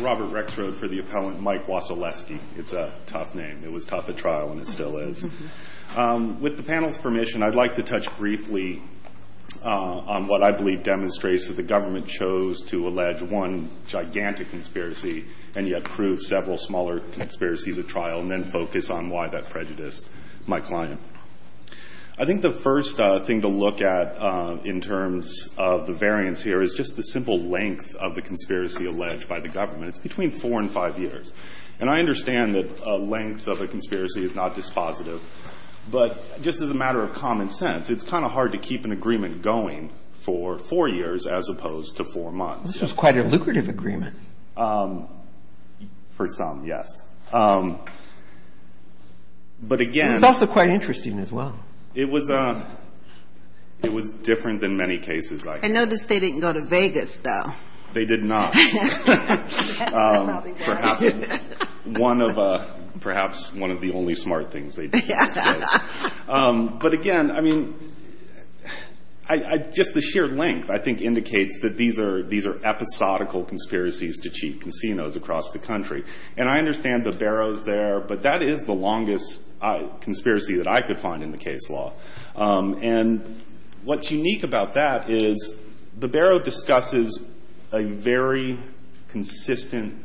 Robert Rexrod for the appellant, Mike Waseleski. It's a tough name. It was tough at trial, and it still is. With the panel's permission, I'd like to touch briefly on what I believe demonstrates that the government chose to allege one gigantic conspiracy and yet prove several smaller conspiracies at trial and then focus on why that prejudiced my client. I think the first thing to look at in terms of the variance here is just the simple length of the conspiracy alleged by the government. It's between four and five years. And I understand that a length of a conspiracy is not dispositive. But just as a matter of common sense, it's kind of hard to keep an agreement going for four years as opposed to four months. This was quite a lucrative agreement. For some, yes. But again... It's also quite interesting as well. It was different than many cases, I think. I noticed they didn't go to Vegas, though. They did not. Perhaps one of the only smart things they did. But again, I mean, just the sheer length, I think, indicates that these are episodical conspiracies to cheap casinos across the country. And I understand Babero's there, but that is the longest conspiracy that I could find in the case law. And what's unique about that is Babero discusses a very consistent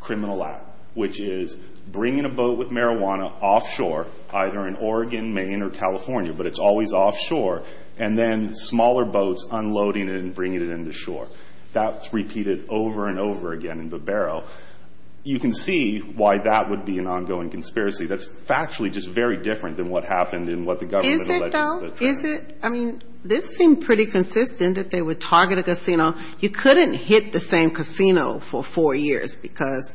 criminal act, which is bringing a boat with marijuana offshore, either in Oregon, Maine, or California, but it's always offshore, and then smaller boats unloading it and bringing it into shore. That's repeated over and over again in Babero. You can see why that would be an ongoing conspiracy. That's factually just very different than what happened in what the government alleged. Is it, though? Is it? I mean, this seemed pretty consistent, that they would target a casino. You couldn't hit the same casino for four years because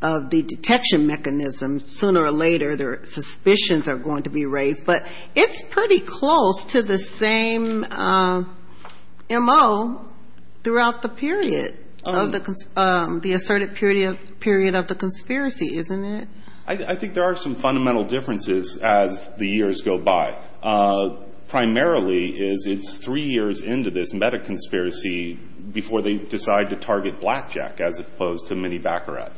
of the detection mechanism. Sooner or later, their suspicions are going to be raised. But it's pretty close to the same M.O. throughout the period, the asserted period of the conspiracy, isn't it? I think there are some fundamental differences as the years go by. Primarily, it's three years into this meta-conspiracy before they decide to target Blackjack as opposed to Minnie Baccarat.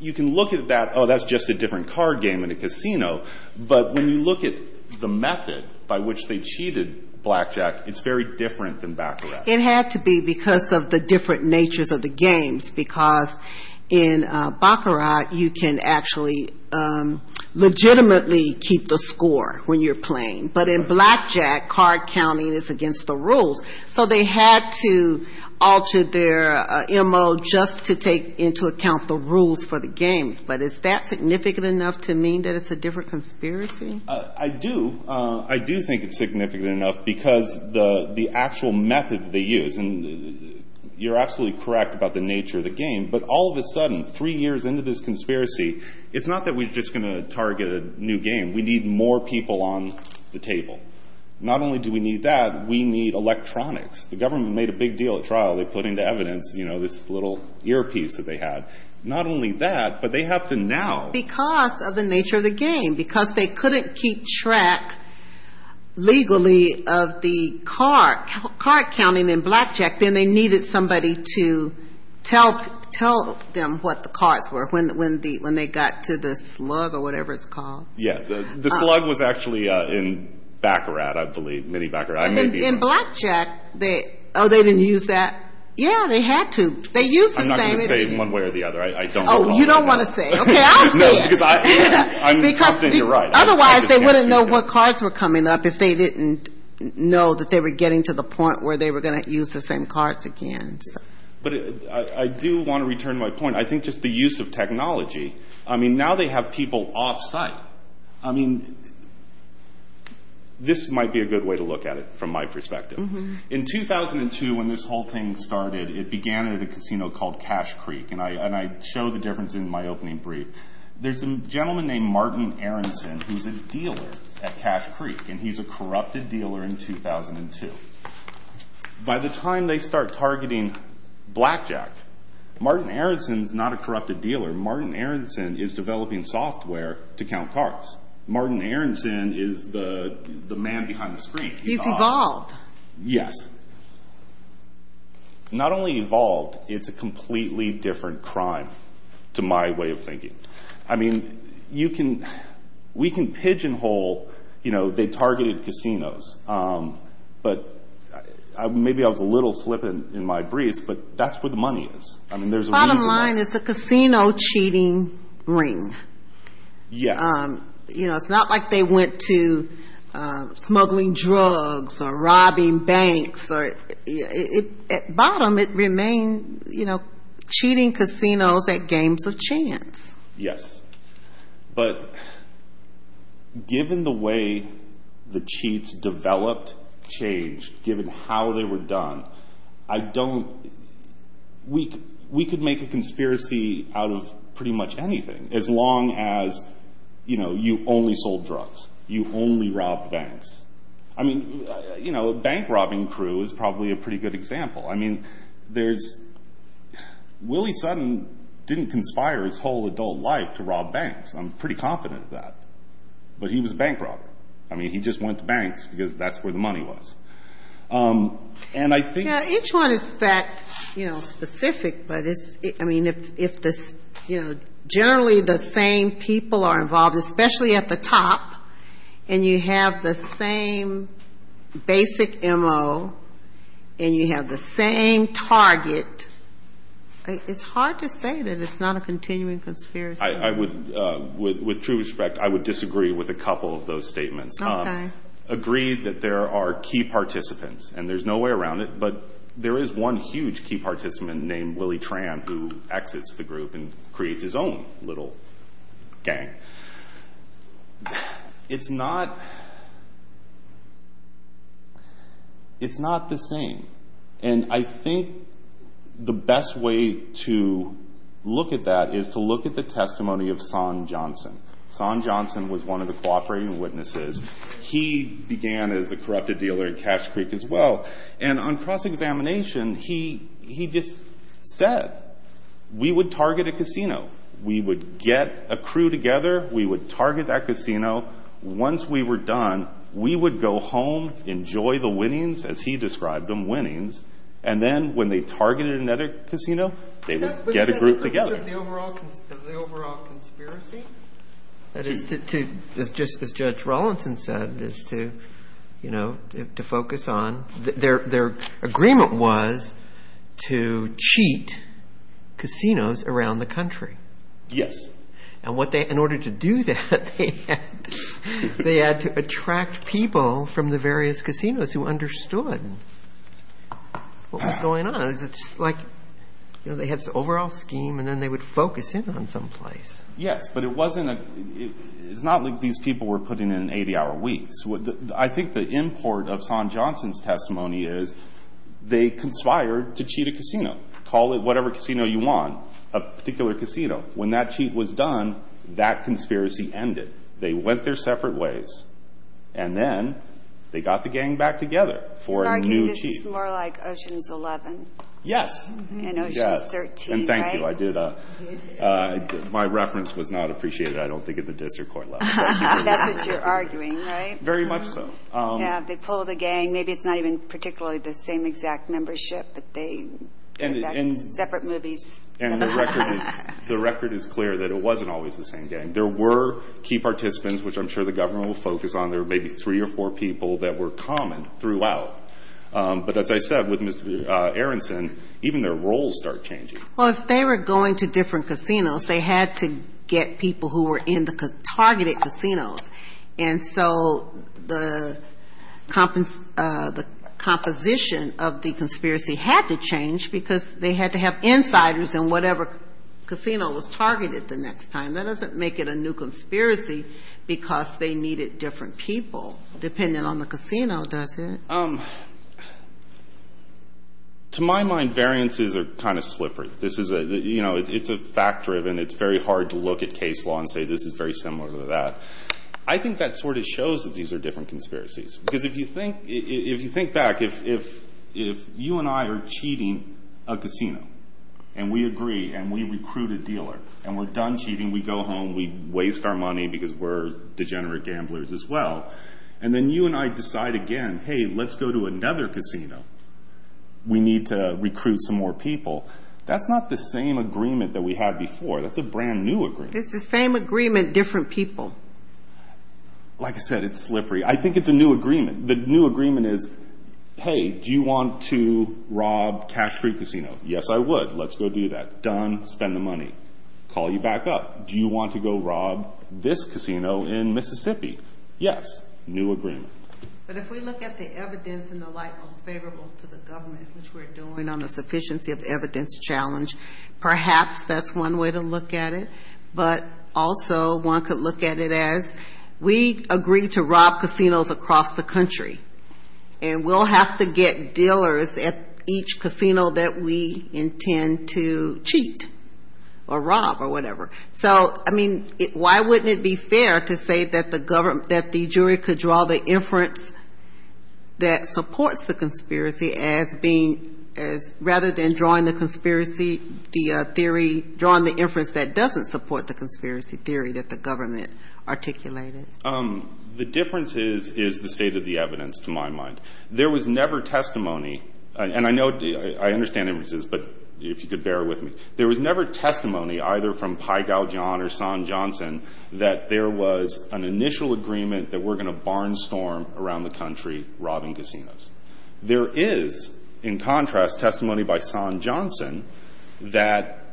You can look at that, oh, that's just a different card game in a casino. But when you look at the method by which they cheated Blackjack, it's very different than Baccarat. It had to be because of the different natures of the games. Because in Baccarat, you can actually legitimately keep the score when you're playing. But in Blackjack, card counting is against the rules. So they had to alter their M.O. just to take into account the rules for the games. But is that significant enough to mean that it's a different conspiracy? I do. I do think it's significant enough because the actual method they use, and you're absolutely correct about the nature of the game. But all of a sudden, three years into this conspiracy, it's not that we're just going to target a new game. We need more people on the table. Not only do we need that. We need electronics. The government made a big deal at trial. They put into evidence this little earpiece that they had. Not only that, but they have to now. Because of the nature of the game, because they couldn't keep track legally of the card counting in Blackjack, then they needed somebody to tell them what the cards were when they got to the slug or whatever it's called. Yes. The slug was actually in Baccarat, I believe, mini Baccarat. In Blackjack, oh, they didn't use that? Yeah, they had to. I'm not going to say one way or the other. I don't recall. Oh, you don't want to say. Okay, I'll say it. No, because I'm saying you're right. Otherwise, they wouldn't know what cards were coming up if they didn't know that they were getting to the point where they were going to use the same cards again. But I do want to return to my point. I think just the use of technology. I mean, now they have people off-site. I mean, this might be a good way to look at it from my perspective. In 2002, when this whole thing started, it began at a casino called Cash Creek, and I show the difference in my opening brief. There's a gentleman named Martin Aronson who's a dealer at Cash Creek, and he's a corrupted dealer in 2002. By the time they start targeting Blackjack, Martin Aronson's not a corrupted dealer. Martin Aronson is developing software to count cards. Martin Aronson is the man behind the screen. He's evolved. Yes. Not only evolved, it's a completely different crime to my way of thinking. I mean, we can pigeonhole, you know, they targeted casinos. But maybe I was a little flippant in my briefs, but that's where the money is. Bottom line, it's a casino cheating ring. Yes. You know, it's not like they went to smuggling drugs or robbing banks. At bottom, it remained, you know, cheating casinos at games of chance. Yes. But given the way the cheats developed, changed, given how they were done, I don't—we could make a conspiracy out of pretty much anything, as long as, you know, you only sold drugs, you only robbed banks. I mean, you know, bank robbing crew is probably a pretty good example. I mean, there's—Willie Sutton didn't conspire his whole adult life to rob banks. I'm pretty confident of that. But he was a bank robber. I mean, he just went to banks because that's where the money was. And I think— Each one is, in fact, you know, specific, but it's—I mean, if this, you know, generally the same people are involved, especially at the top, and you have the same basic M.O., and you have the same target, it's hard to say that it's not a continuing conspiracy. I would—with true respect, I would disagree with a couple of those statements. Okay. Agree that there are key participants, and there's no way around it, but there is one huge key participant named Willie Tran who exits the group and creates his own little gang. It's not—it's not the same. And I think the best way to look at that is to look at the testimony of Son Johnson. Son Johnson was one of the cooperating witnesses. He began as a corrupted dealer in Cache Creek as well. And on cross-examination, he just said, we would target a casino. We would get a crew together. We would target that casino. Once we were done, we would go home, enjoy the winnings, as he described them, winnings, and then when they targeted another casino, they would get a group together. But isn't that the overall conspiracy? That is to—just as Judge Rawlinson said, is to, you know, to focus on— their agreement was to cheat casinos around the country. Yes. And what they—in order to do that, they had to attract people from the various casinos who understood what was going on. It's like, you know, they had this overall scheme, and then they would focus in on some place. Yes, but it wasn't a—it's not like these people were putting in 80-hour weeks. I think the import of Son Johnson's testimony is they conspired to cheat a casino. Call it whatever casino you want, a particular casino. When that cheat was done, that conspiracy ended. They went their separate ways, and then they got the gang back together for a new cheat. Are you—this is more like Oceans 11? Yes. And Oceans 13, right? My reference was not appreciated, I don't think, at the district court level. That's what you're arguing, right? Very much so. Yeah, they pulled the gang. Maybe it's not even particularly the same exact membership, but they— And— Separate movies. And the record is clear that it wasn't always the same gang. There were key participants, which I'm sure the government will focus on. There were maybe three or four people that were common throughout. But as I said, with Mr. Aronson, even their roles start changing. Well, if they were going to different casinos, they had to get people who were in the targeted casinos. And so the composition of the conspiracy had to change because they had to have insiders in whatever casino was targeted the next time. That doesn't make it a new conspiracy because they needed different people, depending on the casino, does it? To my mind, variances are kind of slippery. It's fact-driven. It's very hard to look at case law and say this is very similar to that. I think that sort of shows that these are different conspiracies. Because if you think back, if you and I are cheating a casino, and we agree, and we recruit a dealer, and we're done cheating, we go home, we waste our money because we're degenerate gamblers as well, and then you and I decide again, hey, let's go to another casino. We need to recruit some more people. That's not the same agreement that we had before. That's a brand-new agreement. It's the same agreement, different people. Like I said, it's slippery. I think it's a new agreement. The new agreement is, hey, do you want to rob Cache Creek Casino? Yes, I would. Let's go do that. Done. Spend the money. Call you back up. Do you want to go rob this casino in Mississippi? Yes, new agreement. But if we look at the evidence in the light most favorable to the government, which we're doing on the sufficiency of evidence challenge, perhaps that's one way to look at it. But also one could look at it as we agree to rob casinos across the country, and we'll have to get dealers at each casino that we intend to cheat or rob or whatever. So, I mean, why wouldn't it be fair to say that the jury could draw the inference that supports the conspiracy rather than drawing the conspiracy theory, drawing the inference that doesn't support the conspiracy theory that the government articulated? The difference is the state of the evidence, to my mind. There was never testimony, and I know I understand inferences, but if you could bear with me. There was never testimony either from Pai Gao John or Son Johnson that there was an initial agreement that we're going to barnstorm around the country robbing casinos. There is, in contrast, testimony by Son Johnson that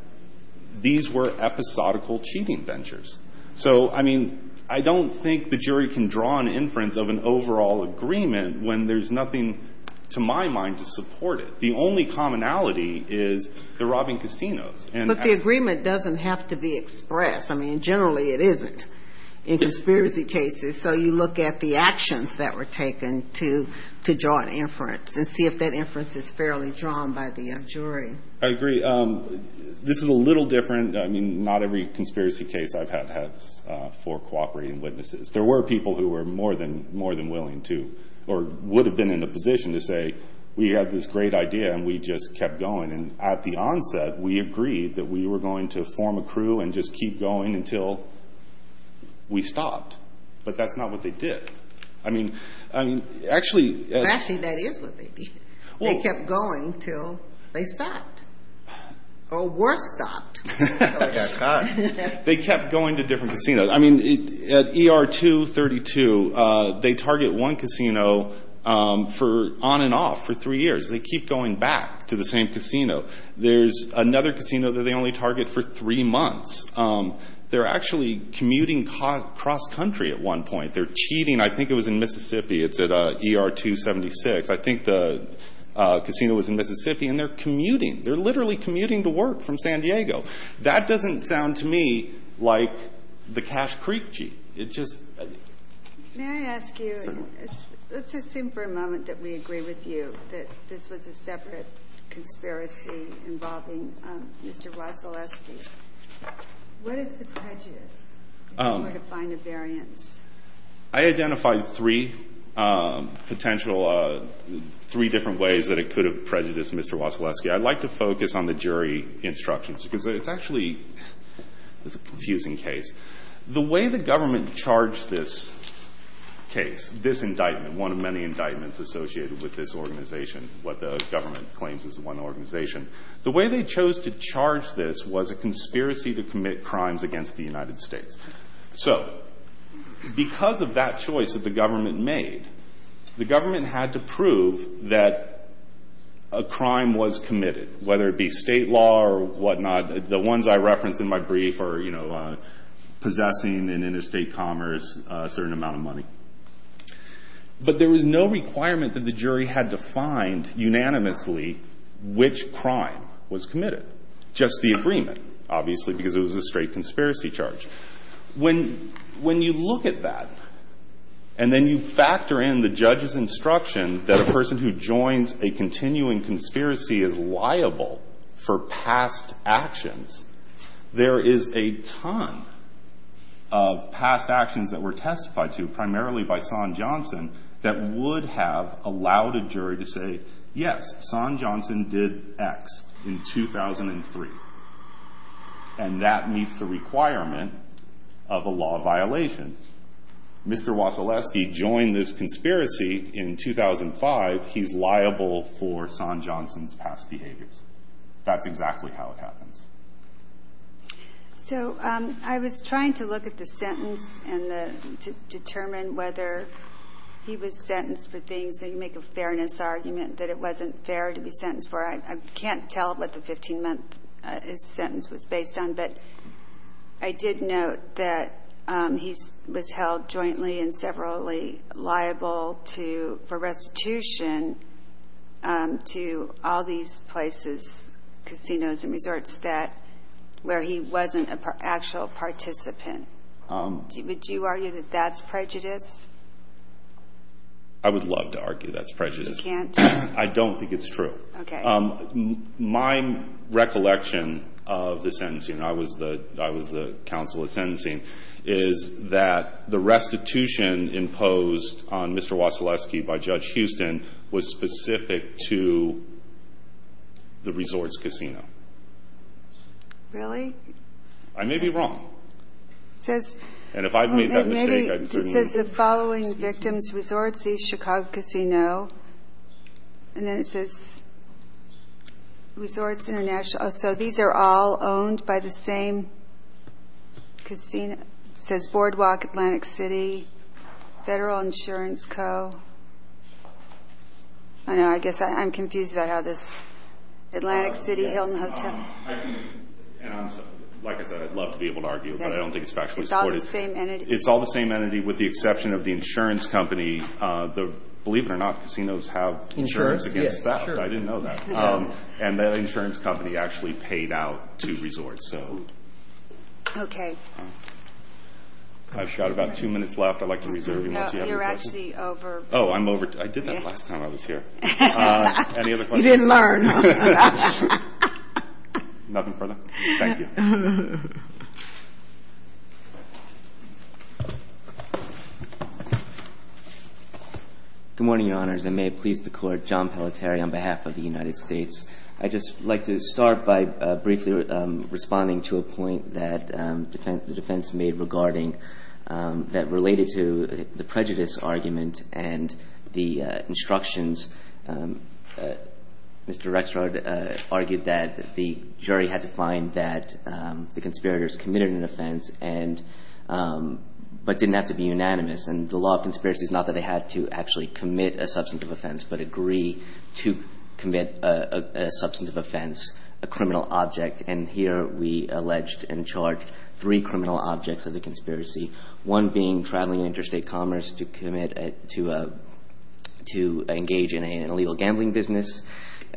these were episodical cheating ventures. So, I mean, I don't think the jury can draw an inference of an overall agreement when there's nothing to my mind to support it. The only commonality is they're robbing casinos. But the agreement doesn't have to be expressed. I mean, generally it isn't in conspiracy cases. So you look at the actions that were taken to draw an inference and see if that inference is fairly drawn by the jury. I agree. This is a little different. I mean, not every conspiracy case I've had has four cooperating witnesses. There were people who were more than willing to or would have been in a position to say, we have this great idea and we just kept going. And at the onset we agreed that we were going to form a crew and just keep going until we stopped. But that's not what they did. I mean, actually. Actually, that is what they did. They kept going until they stopped. Or were stopped. They kept going to different casinos. I mean, at ER 232, they target one casino on and off for three years. They keep going back to the same casino. There's another casino that they only target for three months. They're actually commuting cross-country at one point. They're cheating. I think it was in Mississippi. It's at ER 276. I think the casino was in Mississippi. And they're commuting. They're literally commuting to work from San Diego. That doesn't sound to me like the Cache Creek cheat. It just. May I ask you. Let's assume for a moment that we agree with you that this was a separate conspiracy involving Mr. Wasilewski. What is the prejudice in order to find a variance? I identified three potential, three different ways that it could have prejudiced Mr. Wasilewski. I'd like to focus on the jury instructions because it's actually. It's a confusing case. The way the government charged this case, this indictment, one of many indictments associated with this organization. What the government claims is one organization. The way they chose to charge this was a conspiracy to commit crimes against the United States. So because of that choice that the government made, the government had to prove that a crime was committed, whether it be state law or whatnot. The ones I referenced in my brief are, you know, possessing an interstate commerce, a certain amount of money. But there was no requirement that the jury had to find unanimously which crime was committed. Just the agreement, obviously, because it was a straight conspiracy charge. When you look at that and then you factor in the judge's instruction that a person who joins a continuing conspiracy is liable for past actions, there is a ton of past actions that were testified to, primarily by Son Johnson, that would have allowed a jury to say, yes, Son Johnson did X in 2003. And that meets the requirement of a law violation. Mr. Wasilewski joined this conspiracy in 2005. He's liable for Son Johnson's past behaviors. That's exactly how it happens. So I was trying to look at the sentence and to determine whether he was sentenced for things. They make a fairness argument that it wasn't fair to be sentenced for. I can't tell what the 15-month sentence was based on. But I did note that he was held jointly and severally liable for restitution to all these places, casinos and resorts, where he wasn't an actual participant. Would you argue that that's prejudice? I would love to argue that's prejudice. You can't? I don't think it's true. Okay. My recollection of the sentencing, and I was the counsel at sentencing, is that the restitution imposed on Mr. Wasilewski by Judge Houston was specific to the resorts casino. Really? I may be wrong. It says the following victims resorts, East Chicago Casino. And then it says Resorts International. So these are all owned by the same casino. It says Boardwalk Atlantic City, Federal Insurance Co. I know. I guess I'm confused about how this Atlantic City Hilton Hotel. Like I said, I'd love to be able to argue, but I don't think it's factually supported. It's all the same entity. It's all the same entity with the exception of the insurance company. Believe it or not, casinos have insurance against that. I didn't know that. And that insurance company actually paid out to resorts. Okay. I've got about two minutes left. I'd like to reserve you. You're actually over. Oh, I'm over. I did that last time I was here. Any other questions? You didn't learn. Nothing further? Thank you. Good morning, Your Honors. I may please the Court. John Pelletier on behalf of the United States. I'd just like to start by briefly responding to a point that the defense made regarding that related to the prejudice argument and the instructions. Mr. Rexrod argued that the jury had to find that the conspirators committed an offense but didn't have to be unanimous. And the law of conspiracy is not that they had to actually commit a substantive offense but agree to commit a substantive offense, a criminal object. And here we alleged and charged three criminal objects of the conspiracy, one being traveling interstate commerce to commit to engage in an illegal gambling business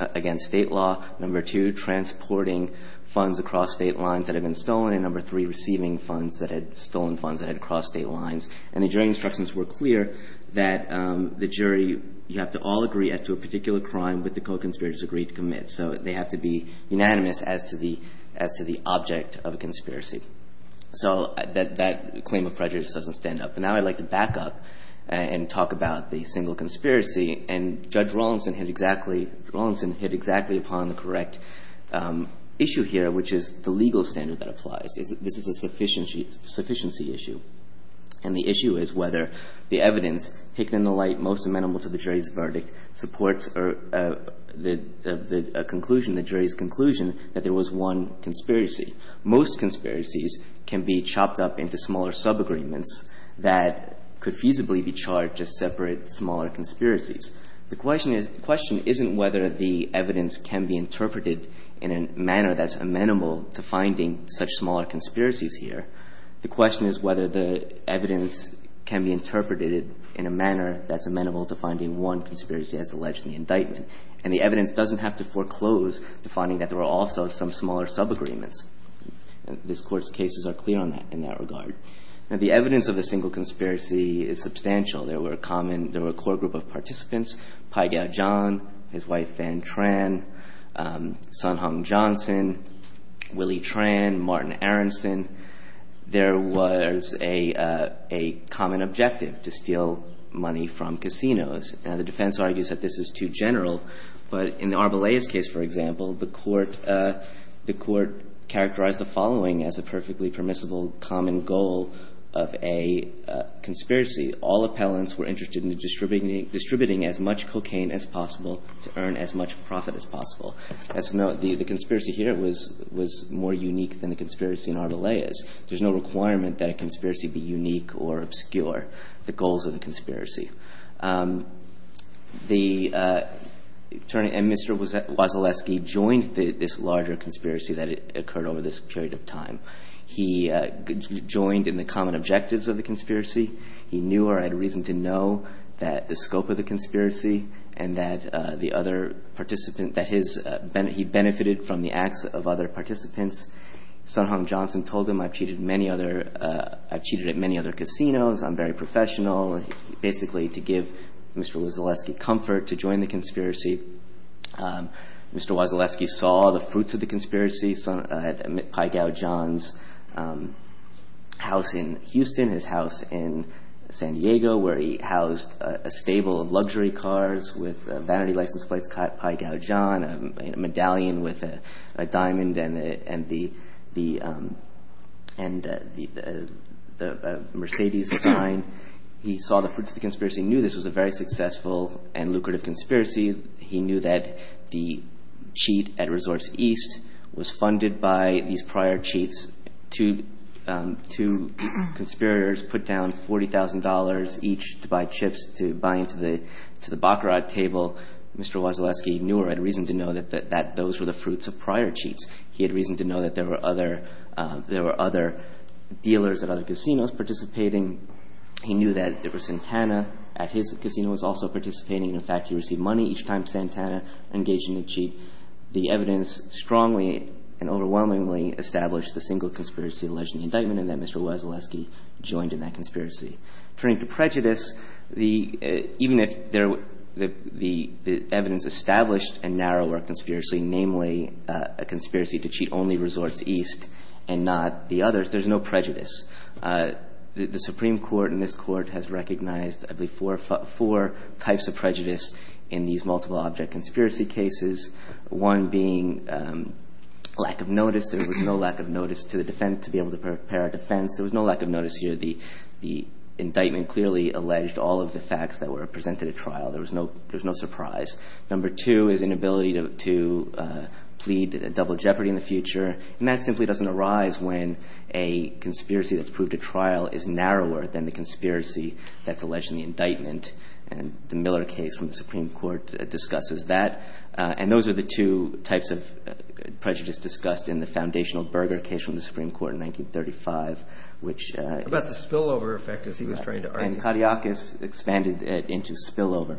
against state law, number two, transporting funds across state lines that had been stolen, and number three, receiving funds that had stolen funds that had crossed state lines. And the jury instructions were clear that the jury, you have to all agree as to a particular crime that the co-conspirators agreed to commit. So they have to be unanimous as to the object of a conspiracy. So that claim of prejudice doesn't stand up. And now I'd like to back up and talk about the single conspiracy. And Judge Rawlinson hit exactly upon the correct issue here, which is the legal standard that applies. This is a sufficiency issue. And the issue is whether the evidence taken in the light most amenable to the jury's verdict supports the conclusion, the jury's conclusion, that there was one conspiracy. Most conspiracies can be chopped up into smaller subagreements that could feasibly be charged as separate, smaller conspiracies. The question isn't whether the evidence can be interpreted in a manner that's amenable to finding such smaller conspiracies here. The question is whether the evidence can be interpreted in a manner that's amenable to finding one conspiracy as alleged in the indictment. And the evidence doesn't have to foreclose to finding that there were also some smaller subagreements. This Court's cases are clear on that in that regard. Now, the evidence of a single conspiracy is substantial. There were a common – there were a core group of participants, Pai Gow John, his wife Van Tran, Sun Hung Johnson, Willie Tran, Martin Aronson. There was a common objective, to steal money from casinos. Now, the defense argues that this is too general. But in the Arbelaez case, for example, the Court – the Court characterized the following as a perfectly permissible common goal of a conspiracy. All appellants were interested in distributing as much cocaine as possible to earn as much profit as possible. The conspiracy here was more unique than the conspiracy in Arbelaez. There's no requirement that a conspiracy be unique or obscure, the goals of the conspiracy. The attorney – and Mr. Wasilewski joined this larger conspiracy that occurred over this period of time. He joined in the common objectives of the conspiracy. He knew or had reason to know that the scope of the conspiracy and that the other participant that his – he benefited from the acts of other participants. Sun Hung Johnson told him, I've cheated many other – I've cheated at many other casinos. I'm very professional. Basically, to give Mr. Wasilewski comfort, to join the conspiracy. Mr. Wasilewski saw the fruits of the conspiracy at Pai Gao John's house in Houston, his house in San Diego, where he housed a stable of luxury cars with a vanity license plate, Pai Gao John, a medallion with a diamond and the – and the Mercedes sign. He saw the fruits of the conspiracy, knew this was a very successful and lucrative conspiracy. He knew that the cheat at Resource East was funded by these prior cheats. Two conspirators put down $40,000 each to buy chips to buy into the – to the Baccarat table. Mr. Wasilewski knew or had reason to know that those were the fruits of prior cheats. He had reason to know that there were other – there were other dealers at other He knew that there was Santana at his casino was also participating. In fact, he received money each time Santana engaged in a cheat. The evidence strongly and overwhelmingly established the single conspiracy alleged in the indictment and that Mr. Wasilewski joined in that conspiracy. Turning to prejudice, the – even if there – the evidence established a narrower conspiracy, namely a conspiracy to cheat only Resorts East and not the others, there's no prejudice. The Supreme Court in this court has recognized, I believe, four types of prejudice in these multiple object conspiracy cases, one being lack of notice. There was no lack of notice to the defense – to be able to prepare a defense. There was no lack of notice here. The indictment clearly alleged all of the facts that were presented at trial. There was no – there was no surprise. Number two is inability to plead double jeopardy in the future, and that simply doesn't arise when a conspiracy that's proved at trial is narrower than the conspiracy that's alleged in the indictment. And the Miller case from the Supreme Court discusses that. And those are the two types of prejudice discussed in the foundational Berger case from the Supreme Court in 1935, which – How about the spillover effect, as he was trying to argue? And Kadiakis expanded it into spillover,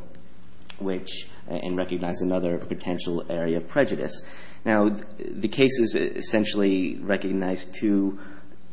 which – and recognized another potential area of prejudice. Now, the cases essentially recognize two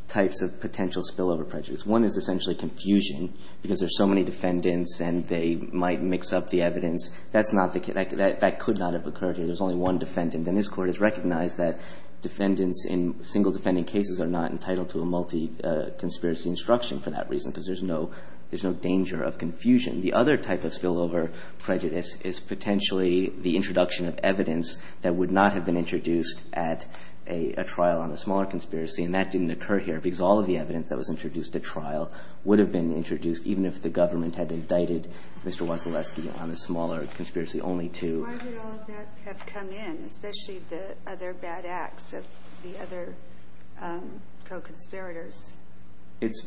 types of potential spillover prejudice. One is essentially confusion, because there's so many defendants and they might mix up the evidence. That's not the – that could not have occurred here. There's only one defendant. And this Court has recognized that defendants in single defendant cases are not entitled to a multi-conspiracy instruction for that reason, because there's no – there's no danger of confusion. The other type of spillover prejudice is potentially the introduction of evidence that would not have been introduced at a trial on a smaller conspiracy. And that didn't occur here, because all of the evidence that was introduced at trial would have been introduced, even if the government had indicted Mr. Wasilewski on a smaller conspiracy only to – Why would all of that have come in, especially the other bad acts of the other co-conspirators? It's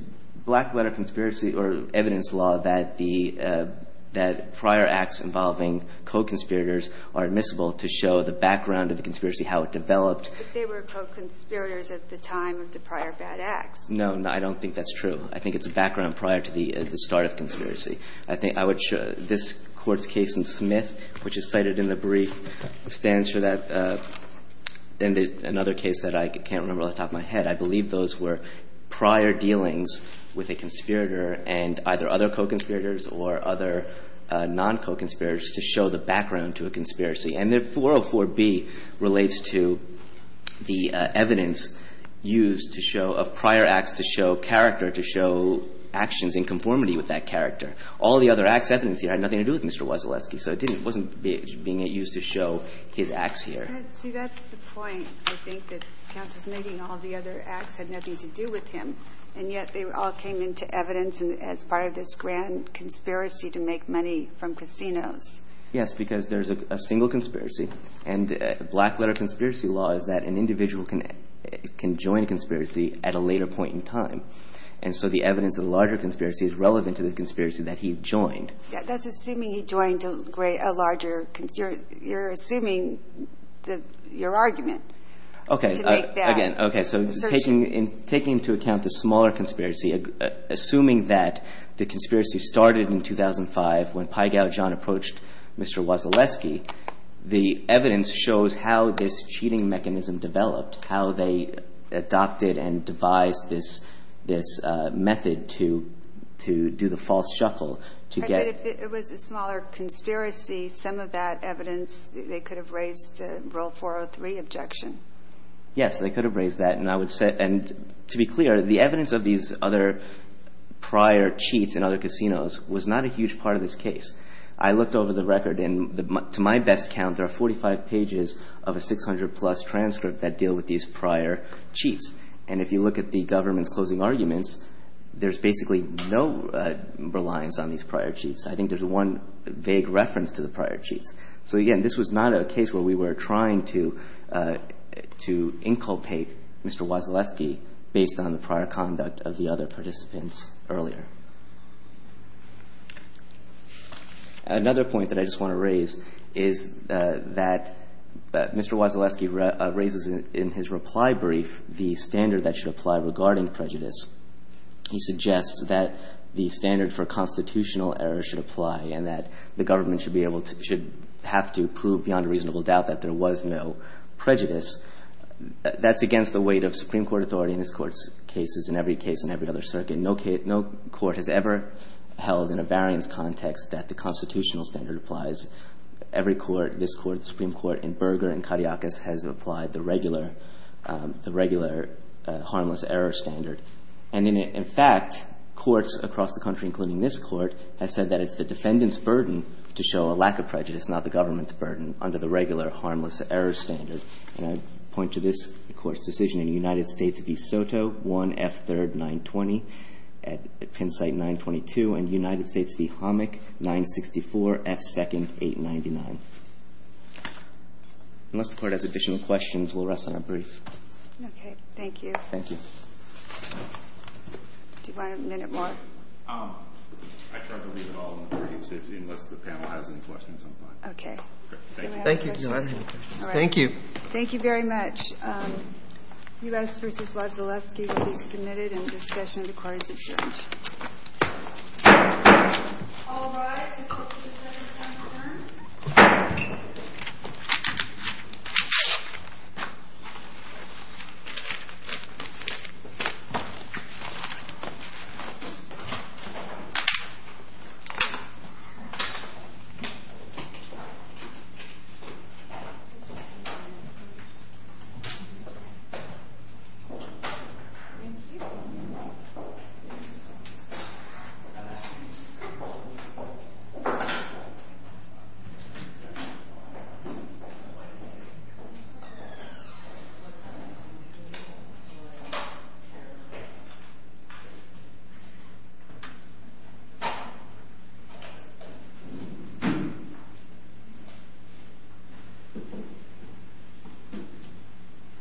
black-letter conspiracy or evidence law that the – that prior acts involving co-conspirators are admissible to show the background of the conspiracy, how it developed. But they were co-conspirators at the time of the prior bad acts. No. I don't think that's true. I think it's a background prior to the start of conspiracy. I think I would – this Court's case in Smith, which is cited in the brief, stands for that – another case that I can't remember off the top of my head. I believe those were prior dealings with a conspirator and either other co-conspirators or other non-co-conspirators to show the background to a conspiracy. And the 404B relates to the evidence used to show – of prior acts to show character, to show actions in conformity with that character. All the other acts evidence here had nothing to do with Mr. Wasilewski, so it didn't – it wasn't being used to show his acts here. See, that's the point. I think that counsel's meeting, all the other acts had nothing to do with him, and yet they all came into evidence as part of this grand conspiracy to make money from casinos. Yes, because there's a single conspiracy, and black-letter conspiracy law is that an individual can join a conspiracy at a later point in time. And so the evidence of the larger conspiracy is relevant to the conspiracy that he joined. That's assuming he joined a larger – you're assuming your argument to make that assertion. Taking into account the smaller conspiracy, assuming that the conspiracy started in 2005 when Pygow John approached Mr. Wasilewski, the evidence shows how this cheating mechanism developed, how they adopted and devised this method to do the false shuffle to get – But if it was a smaller conspiracy, some of that evidence, they could have raised a Rule 403 objection. Yes, they could have raised that, and I would say – and to be clear, the evidence of these other prior cheats in other casinos was not a huge part of this case. I looked over the record, and to my best count, there are 45 pages of a 600-plus transcript that deal with these prior cheats. And if you look at the government's closing arguments, there's basically no reliance on these prior cheats. I think there's one vague reference to the prior cheats. So, again, this was not a case where we were trying to inculpate Mr. Wasilewski based on the prior conduct of the other participants earlier. Another point that I just want to raise is that Mr. Wasilewski raises in his reply brief the standard that should apply regarding prejudice. He suggests that the standard for constitutional error should apply and that the court should have to prove beyond a reasonable doubt that there was no prejudice. That's against the weight of Supreme Court authority in this Court's cases and every case in every other circuit. No case – no court has ever held in a variance context that the constitutional standard applies. Every court, this Court, the Supreme Court, and Berger and Kariakis has applied the regular – the regular harmless error standard. And in fact, courts across the country, including this Court, have said that it's the defendant's burden to show a lack of prejudice, not the government's burden, under the regular harmless error standard. And I point to this Court's decision in United States v. Soto 1F3rd 920 at Penn Site 922 and United States v. Homick 964 F2nd 899. Unless the Court has additional questions, we'll rest on our brief. Okay. Thank you. Thank you. Do you want a minute more? I tried to leave it all in the brief. Unless the panel has any questions, I'm fine. Okay. Thank you. Thank you. Thank you very much. U.S. v. Wazilewski will be submitted in discussion of the court's approach. All rise. The Court will be presented at ten o'clock. Thank you. Thank you.